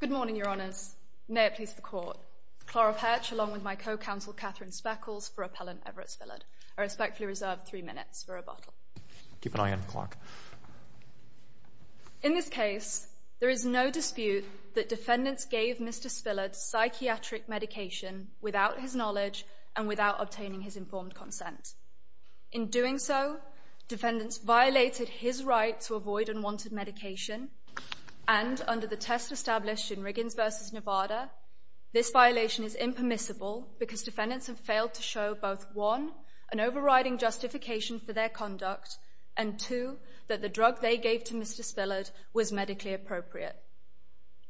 Good morning, Your Honours. May it please the Court. Clara Perch along with my co-counsel Catherine Speckles for Appellant Everett Spillard are respectfully reserved three minutes for rebuttal. Keep an eye on the clock. In this case, there is no dispute that defendants gave Mr. Spillard psychiatric medication without his knowledge and without obtaining his informed consent. In doing so, defendants violated his right to avoid unwanted medication and, under the test established in Riggins v. Nevada, this violation is impermissible because defendants have failed to show both 1. an overriding justification for their conduct and 2. that the drug they gave to Mr. Spillard was medically appropriate.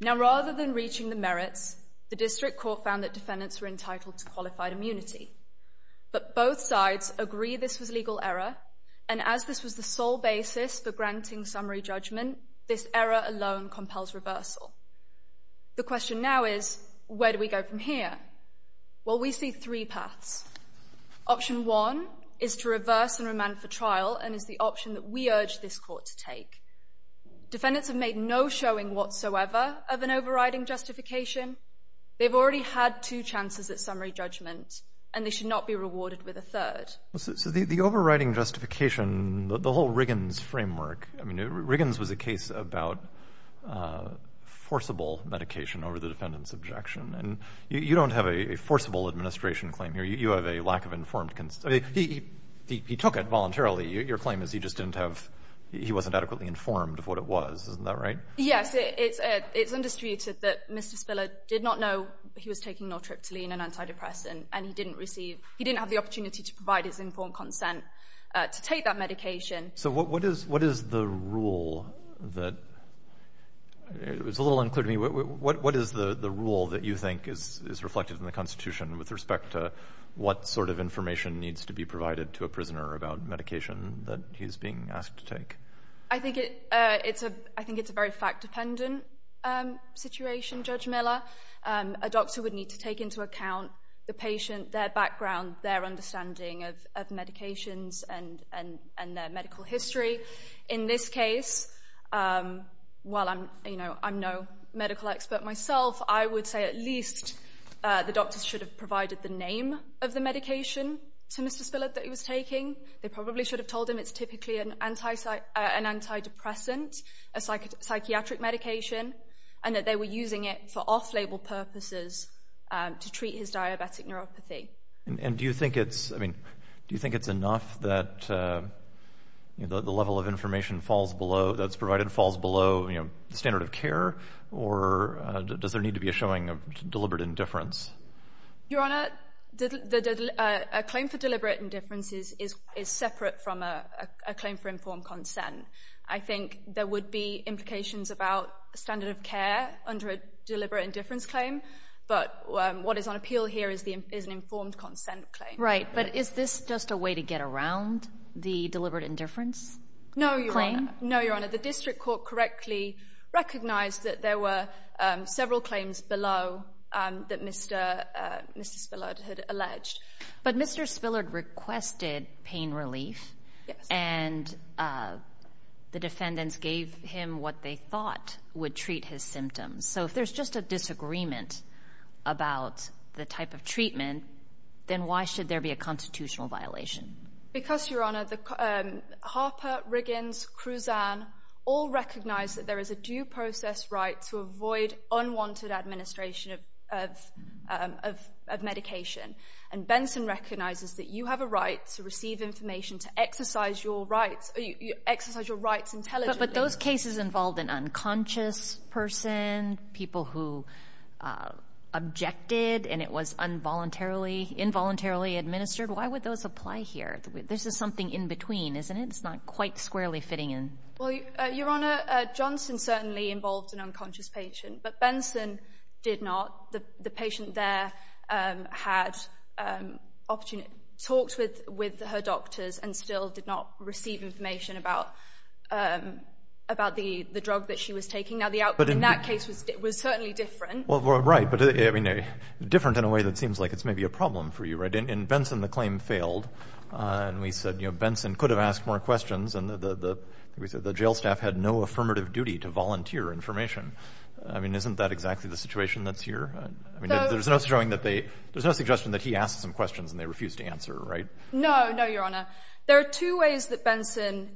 Now, rather than reaching the merits, the District Court found that defendants were entitled to qualified immunity. But both sides agree this was legal error and as this was the sole basis for granting summary judgment, this error alone compels reversal. The question now is, where do we go from here? Well, we see three paths. Option 1 is to reverse and remand for trial and is the option that we urge this Court to take. Defendants have made no showing whatsoever of an overriding justification. They've already had two chances at summary judgment and they should not be rewarded with a third. So the overriding justification, the whole Riggins framework, I mean, Riggins was a case about forcible medication over the defendant's objection and you don't have a forcible administration claim here, you have a lack of informed, he took it voluntarily, your claim is he just didn't have, he wasn't adequately informed of what it was, isn't that right? Yes, it's understated that Mr. Spillard did not know he was taking naltreptoline and antidepressant and he didn't receive, he didn't have the opportunity to provide his informed consent to take that medication. So what is the rule that, it's a little unclear to me, what is the rule that you think is reflected in the Constitution with respect to what sort of information needs to be provided to a prisoner about medication that he's being asked to take? I think it's a very fact-dependent situation, Judge Miller. A doctor would need to take into account the patient, their background, their understanding of medications and their medical history. In this case, while I'm no medical expert myself, I would say at least the doctors should have provided the name of the medication to Mr. Spillard that he was taking. They probably should have told him it's typically an antidepressant, a psychiatric medication, and that they were using it for off-label purposes to treat his diabetic neuropathy. And do you think it's enough that the level of information that's provided falls below the standard of care, or does there need to be a showing of deliberate indifference? Your Honor, a claim for deliberate indifference is separate from a claim for informed consent. I think there would be implications about standard of care under a deliberate indifference claim, but what is on appeal here is an informed consent claim. Right, but is this just a way to get around the deliberate indifference claim? No, Your Honor. The district court correctly recognized that there were several claims below that Mr. Spillard had alleged. But Mr. Spillard requested pain relief, and the defendants gave him what they thought would treat his symptoms. So if there's just a disagreement about the type of treatment, then why should there be a constitutional violation? Because, Your Honor, Harper, Riggins, Cruzan all recognize that there is a due process right to avoid unwanted administration of medication. And Benson recognizes that you have a right to receive information to exercise your rights intelligently. But those cases involved an unconscious person, people who objected and it was involuntarily administered, why would those apply here? This is something in between, isn't it? It's not quite squarely fitting in. Well, Your Honor, Johnson certainly involved an unconscious patient, but Benson did not. The patient there had talked with her doctors and still did not receive information about the drug that she was taking. Now, the outcome in that case was certainly different. Well, right, but different in a way that seems like it's maybe a problem for you, right? In Benson, the claim failed. And we said Benson could have asked more questions and the jail staff had no affirmative duty to volunteer information. I mean, isn't that exactly the situation that's here? There's no suggestion that he asked some questions and they refused to answer, right? No, no, Your Honor. There are two ways that Benson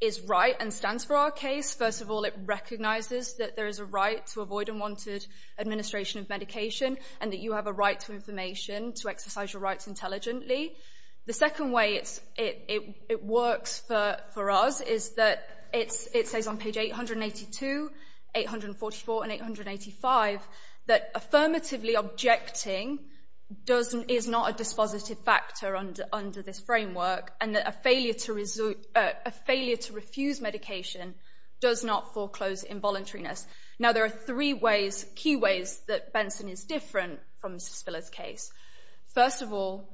is right and stands for our case. First of all, it recognizes that there is a right to avoid unwanted administration of medication and that you have a right to information to exercise your rights intelligently. The second way it works for us is that it says on page 882, 844, and 885 that affirmatively objecting is not a dispositive factor under this framework and that a failure to refuse medication does not foreclose involuntariness. Now, there are three key ways that Benson is different from Mr. Spillard's case. First of all,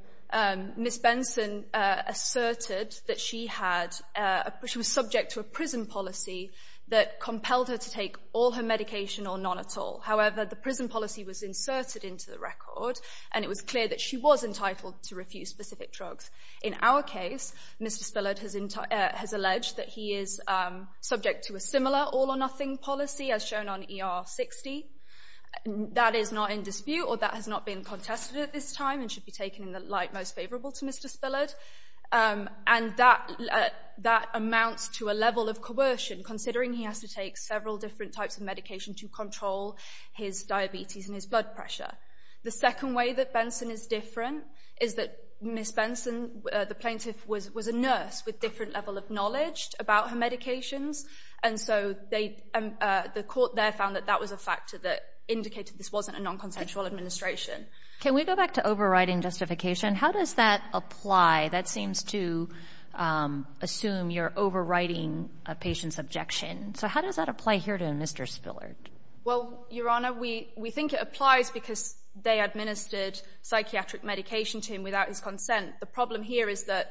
Ms. Benson asserted that she was subject to a prison policy that compelled her to take all her medication or none at all. However, the prison policy was inserted into the record and it was clear that she was entitled to refuse specific drugs. In our case, Mr. Spillard has alleged that he is subject to a similar all-or-nothing policy as shown on ER 60. That is not in dispute or that has not been contested at this time and should be taken in the light most favorable to Mr. Spillard. And that amounts to a level of coercion considering he has to take several different types of medication to control his diabetes and his blood pressure. The second way that Benson is different is that Ms. Benson, the plaintiff, was a nurse with a different level of knowledge about her medications and so the court there found that that was a factor that indicated this wasn't a non-consensual administration. Can we go back to overriding justification? How does that apply? That seems to assume you're overriding a patient's objection. So how does that apply here to Mr. Spillard? Well, Your Honor, we think it applies because they administered psychiatric medication to him without his consent. The problem here is that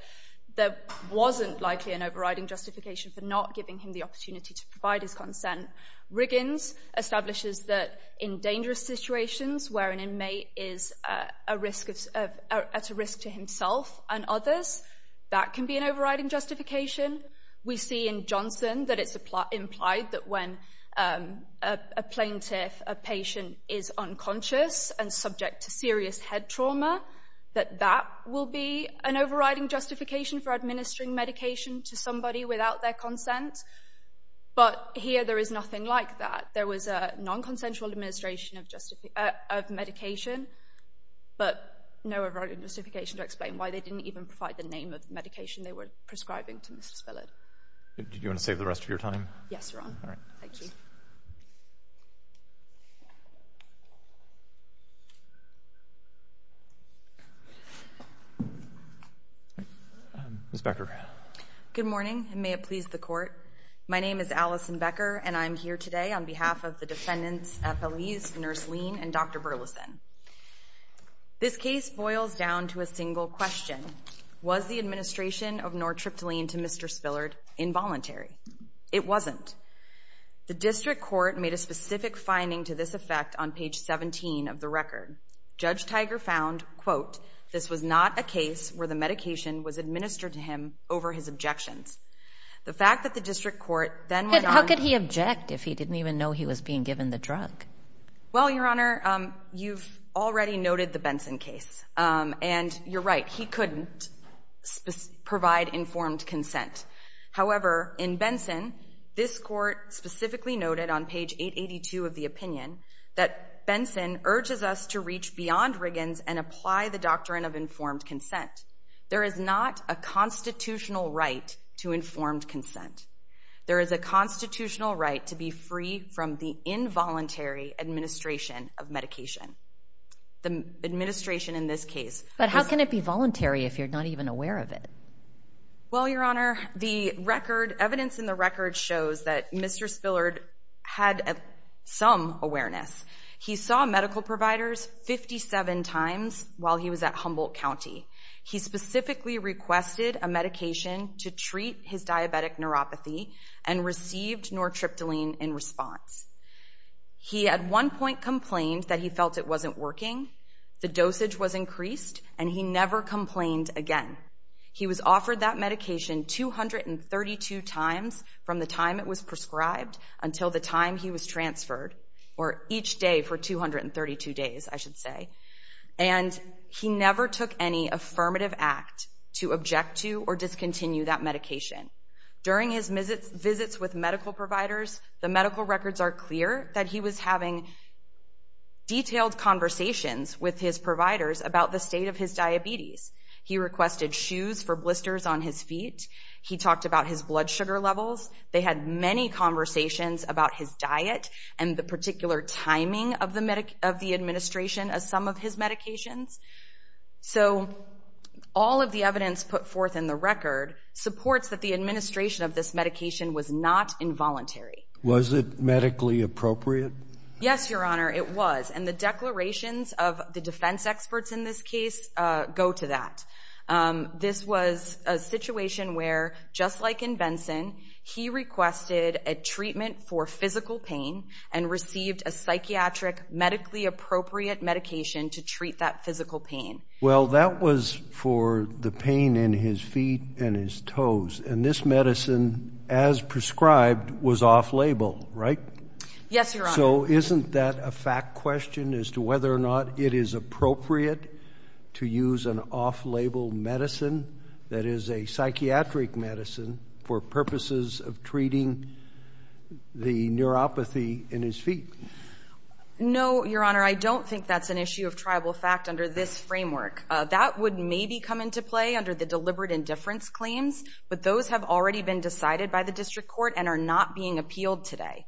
there wasn't likely an overriding justification for not giving him the opportunity to provide his consent. Riggins establishes that in dangerous situations where an inmate is at a risk to himself and others, that can be an overriding justification. We see in Johnson that it's implied that when a plaintiff, a patient, is unconscious and subject to serious head trauma that that will be an overriding justification for administering medication to somebody without their consent. But here there is nothing like that. There was a non-consensual administration of medication, but no overriding justification to explain why they didn't even provide the name of the medication they were prescribing to Mr. Spillard. Do you want to save the rest of your time? Yes, Your Honor. Thank you. Ms. Becker. Good morning, and may it please the Court. My name is Allison Becker, and I'm here today on behalf of the defendants, FLEs, Nurse Lean, and Dr. Burleson. This case boils down to a single question. Was the administration of nortriptyline to Mr. Spillard involuntary? It wasn't. The district court made a specific finding to this effect on page 17 of the record. Judge Tiger found, quote, this was not a case where the medication was administered to him over his objections. The fact that the district court then went on to How could he object if he didn't even know he was being given the drug? Well, Your Honor, you've already noted the Benson case, and you're right. He couldn't provide informed consent. However, in Benson, this court specifically noted on page 882 of the opinion that Benson urges us to reach beyond Riggins and apply the doctrine of informed consent. There is not a constitutional right to informed consent. There is a constitutional right to be free from the involuntary administration of medication. The administration in this case But how can it be voluntary if you're not even aware of it? Well, Your Honor, the evidence in the record shows that Mr. Spillard had some awareness. He saw medical providers 57 times while he was at Humboldt County. He specifically requested a medication to treat his diabetic neuropathy and received nortriptyline in response. He at one point complained that he felt it wasn't working. The dosage was increased, and he never complained again. He was offered that medication 232 times from the time it was prescribed until the time he was transferred, or each day for 232 days, I should say. And he never took any affirmative act to object to or discontinue that medication. During his visits with medical providers, the medical records are clear that he was having detailed conversations with his providers about the state of his diabetes. He requested shoes for blisters on his feet. He talked about his blood sugar levels. They had many conversations about his diet and the particular timing of the administration of some of his medications. So all of the evidence put forth in the record supports that the administration of this medication was not involuntary. Was it medically appropriate? Yes, Your Honor, it was. And the declarations of the defense experts in this case go to that. This was a situation where, just like in Benson, he requested a treatment for physical pain and received a psychiatric medically appropriate medication to treat that physical pain. Well, that was for the pain in his feet and his toes. And this medicine, as prescribed, was off-label, right? Yes, Your Honor. So isn't that a fact question as to whether or not it is appropriate to use an off-label medicine that is a psychiatric medicine for purposes of treating the neuropathy in his feet? No, Your Honor, I don't think that's an issue of tribal fact under this framework. That would maybe come into play under the deliberate indifference claims, but those have already been decided by the district court and are not being appealed today.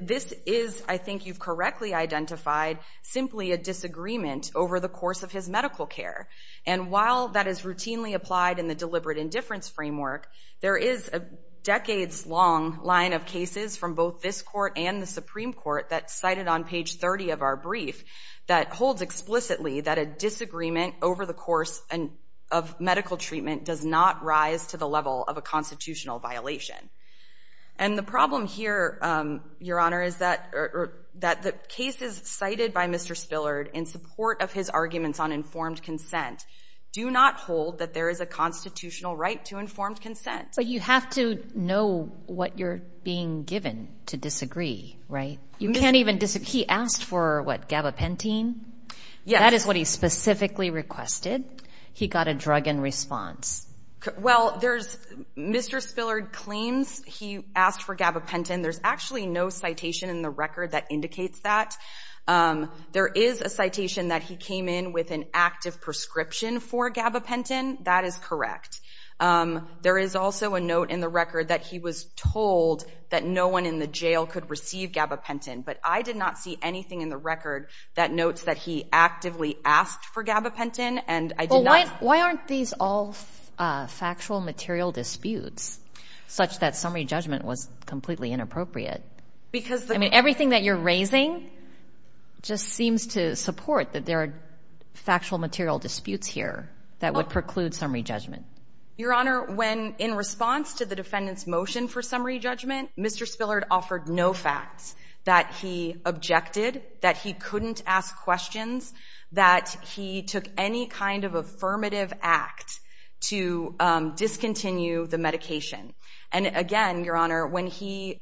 This is, I think you've correctly identified, simply a disagreement over the course of his medical care. And while that is routinely applied in the deliberate indifference framework, there is a decades-long line of cases from both this court and the Supreme Court that's cited on page 30 of our brief that holds explicitly that a disagreement over the course of medical treatment does not rise to the level of a constitutional violation. And the problem here, Your Honor, is that the cases cited by Mr. Spillard in support of his arguments on informed consent do not hold that there is a constitutional right to informed consent. But you have to know what you're being given to disagree, right? You can't even disagree. He asked for, what, gabapentin? Yes. That is what he specifically requested. He got a drug in response. Well, there's Mr. Spillard claims he asked for gabapentin. There's actually no citation in the record that indicates that. There is a citation that he came in with an active prescription for gabapentin. That is correct. There is also a note in the record that he was told that no one in the jail could receive gabapentin. But I did not see anything in the record that notes that he actively asked for gabapentin. And I did not ---- Well, why aren't these all factual material disputes, such that summary judgment was completely inappropriate? Because the ---- I mean, everything that you're raising just seems to support that there are factual material disputes here that would preclude summary judgment. Your Honor, when in response to the defendant's motion for summary judgment, Mr. Spillard offered no facts that he objected, that he couldn't ask questions, that he took any kind of affirmative act to discontinue the medication. And again, Your Honor, when he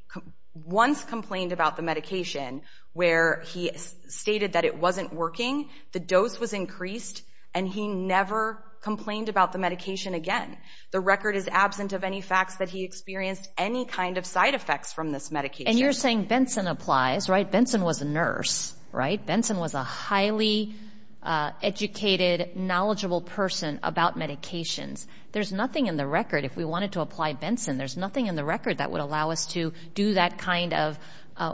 once complained about the medication where he stated that it wasn't working, the dose was increased and he never complained about the medication again. The record is absent of any facts that he experienced any kind of side effects from this medication. And you're saying Benson applies, right? Benson was a nurse, right? A highly educated, knowledgeable person about medications. There's nothing in the record, if we wanted to apply Benson, there's nothing in the record that would allow us to do that kind of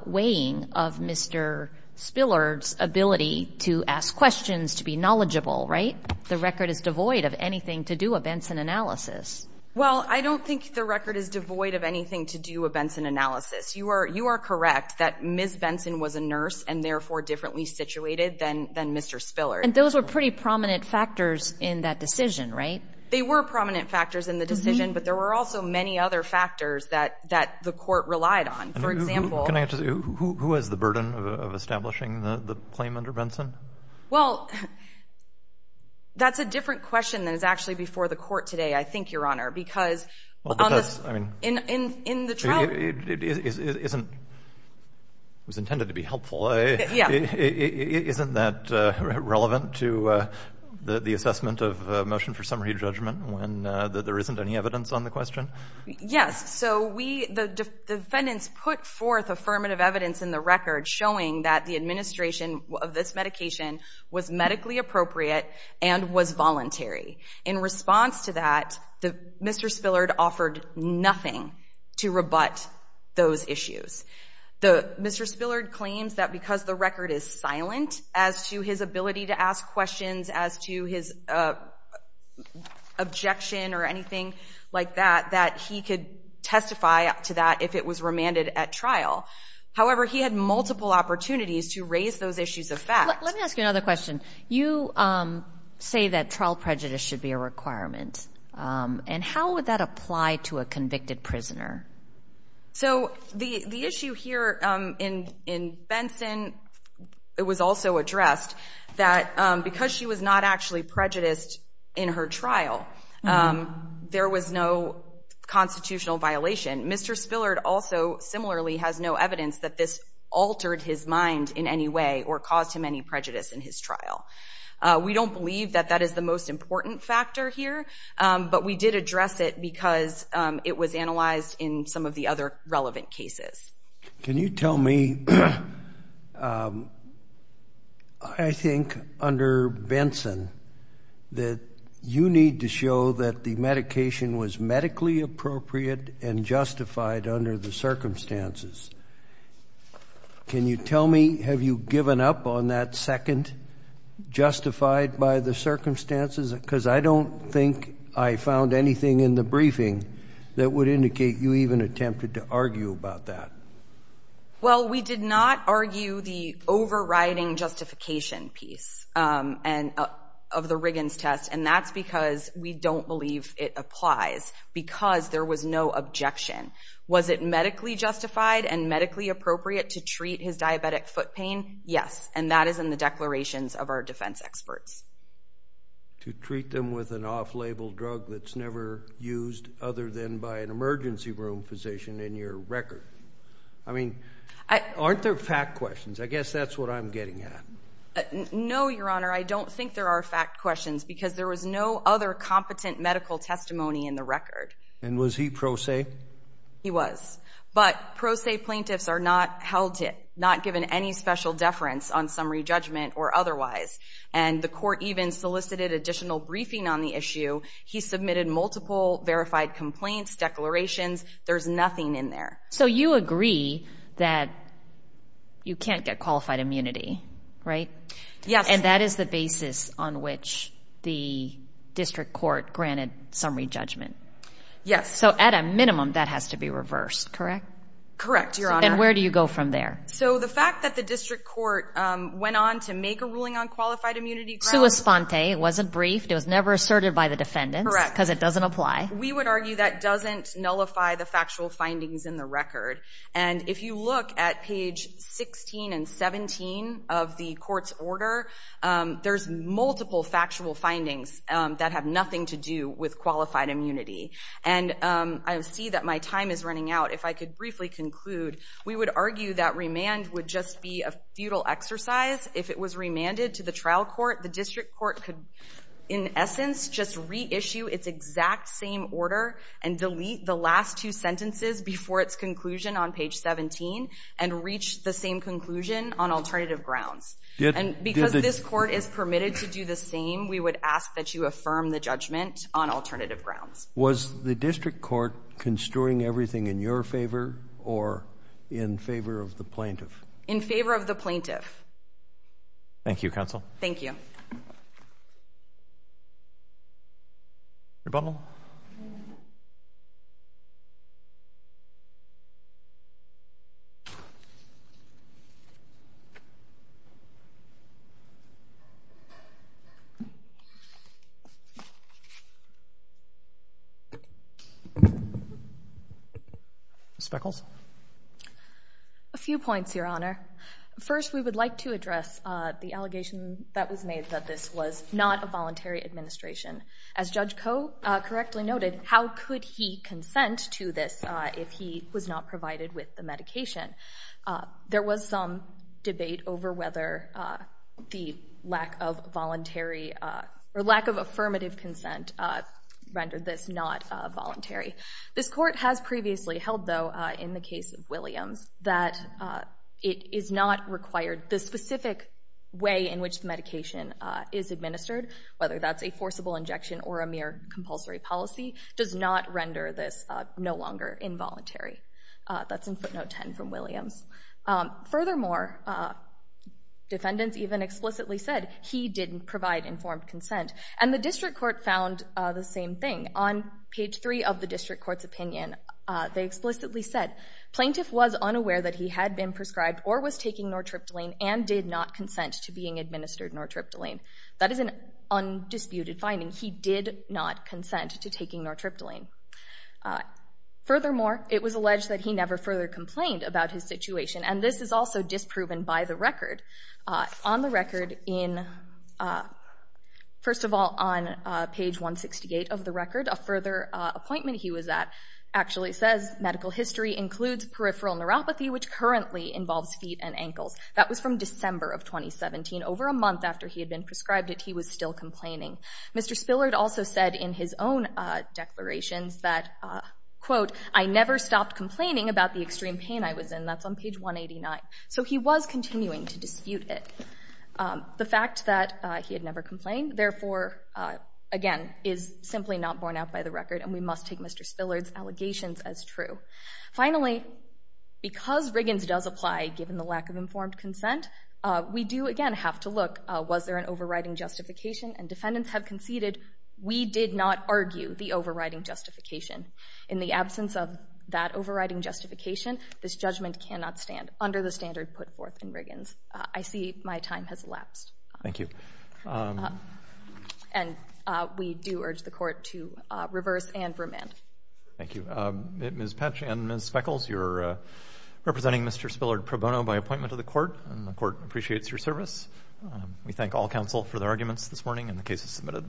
weighing of Mr. Spillard's ability to ask questions, to be knowledgeable, right? The record is devoid of anything to do a Benson analysis. Well, I don't think the record is devoid of anything to do a Benson analysis. You are correct that Ms. Benson was a nurse and, therefore, differently situated than Mr. Spillard. And those were pretty prominent factors in that decision, right? They were prominent factors in the decision, but there were also many other factors that the court relied on. For example, Who has the burden of establishing the claim under Benson? Well, that's a different question than is actually before the court today, I think, Your Honor. Because in the trial- It was intended to be helpful. Yeah. Isn't that relevant to the assessment of motion for summary judgment when there isn't any evidence on the question? Yes. So the defendants put forth affirmative evidence in the record In response to that, Mr. Spillard offered nothing to rebut those issues. Mr. Spillard claims that because the record is silent as to his ability to ask questions, as to his objection or anything like that, that he could testify to that if it was remanded at trial. However, he had multiple opportunities to raise those issues of fact. Let me ask you another question. You say that trial prejudice should be a requirement. And how would that apply to a convicted prisoner? So the issue here in Benson, it was also addressed, that because she was not actually prejudiced in her trial, there was no constitutional violation. Mr. Spillard also similarly has no evidence that this altered his mind in any way or caused him any prejudice in his trial. We don't believe that that is the most important factor here. But we did address it because it was analyzed in some of the other relevant cases. Can you tell me, I think under Benson, that you need to show that the medication was medically appropriate and justified under the circumstances. Can you tell me, have you given up on that second, justified by the circumstances? Because I don't think I found anything in the briefing that would indicate you even attempted to argue about that. Well, we did not argue the overriding justification piece of the Riggins test, and that's because we don't believe it applies because there was no objection. Was it medically justified and medically appropriate to treat his diabetic foot pain? Yes, and that is in the declarations of our defense experts. To treat them with an off-label drug that's never used other than by an emergency room physician in your record. I mean, aren't there fact questions? I guess that's what I'm getting at. No, Your Honor, I don't think there are fact questions because there was no other competent medical testimony in the record. And was he pro se? He was. But pro se plaintiffs are not held to it, not given any special deference on summary judgment or otherwise. And the court even solicited additional briefing on the issue. He submitted multiple verified complaints, declarations. There's nothing in there. So you agree that you can't get qualified immunity, right? Yes. And that is the basis on which the district court granted summary judgment. Yes. So at a minimum, that has to be reversed, correct? Correct, Your Honor. And where do you go from there? So the fact that the district court went on to make a ruling on qualified immunity grounds- Sui sponte. It wasn't briefed. It was never asserted by the defendants. Correct. Because it doesn't apply. We would argue that doesn't nullify the factual findings in the record. And if you look at page 16 and 17 of the court's order, there's multiple factual findings that have nothing to do with qualified immunity. And I see that my time is running out. If I could briefly conclude, we would argue that remand would just be a futile exercise. If it was remanded to the trial court, the district court could, in essence, just reissue its exact same order and delete the last two sentences before its conclusion on page 17 and reach the same conclusion on alternative grounds. And because this court is permitted to do the same, we would ask that you affirm the judgment on alternative grounds. Was the district court construing everything in your favor or in favor of the plaintiff? In favor of the plaintiff. Thank you, counsel. Thank you. Rebundal? Ms. Beckles? A few points, Your Honor. First, we would like to address the allegation that was made that this was not a voluntary administration. As Judge Koh correctly noted, how could he consent to this if he was not provided with the medication? There was some debate over whether the lack of voluntary or lack of affirmative consent rendered this not voluntary. This court has previously held, though, in the case of Williams, that it is not required. The specific way in which the medication is administered, whether that's a forcible injection or a mere compulsory policy, does not render this no longer involuntary. That's in footnote 10 from Williams. Furthermore, defendants even explicitly said he didn't provide informed consent. And the district court found the same thing. On page 3 of the district court's opinion, they explicitly said, Plaintiff was unaware that he had been prescribed or was taking nortriptyline and did not consent to being administered nortriptyline. That is an undisputed finding. He did not consent to taking nortriptyline. Furthermore, it was alleged that he never further complained about his situation, and this is also disproven by the record. On the record in, first of all, on page 168 of the record, a further appointment he was at actually says, Medical history includes peripheral neuropathy, which currently involves feet and ankles. That was from December of 2017. Over a month after he had been prescribed it, he was still complaining. Mr. Spillard also said in his own declarations that, quote, I never stopped complaining about the extreme pain I was in. That's on page 189. So he was continuing to dispute it. The fact that he had never complained, therefore, again, is simply not borne out by the record, and we must take Mr. Spillard's allegations as true. Finally, because Riggins does apply, given the lack of informed consent, we do, again, have to look, was there an overriding justification? And defendants have conceded, we did not argue the overriding justification. In the absence of that overriding justification, this judgment cannot stand under the standard put forth in Riggins. I see my time has elapsed. Thank you. And we do urge the court to reverse and remand. Thank you. Ms. Petsch and Ms. Speckles, you're representing Mr. Spillard pro bono by appointment to the court, and the court appreciates your service. We thank all counsel for their arguments this morning, and the case is submitted.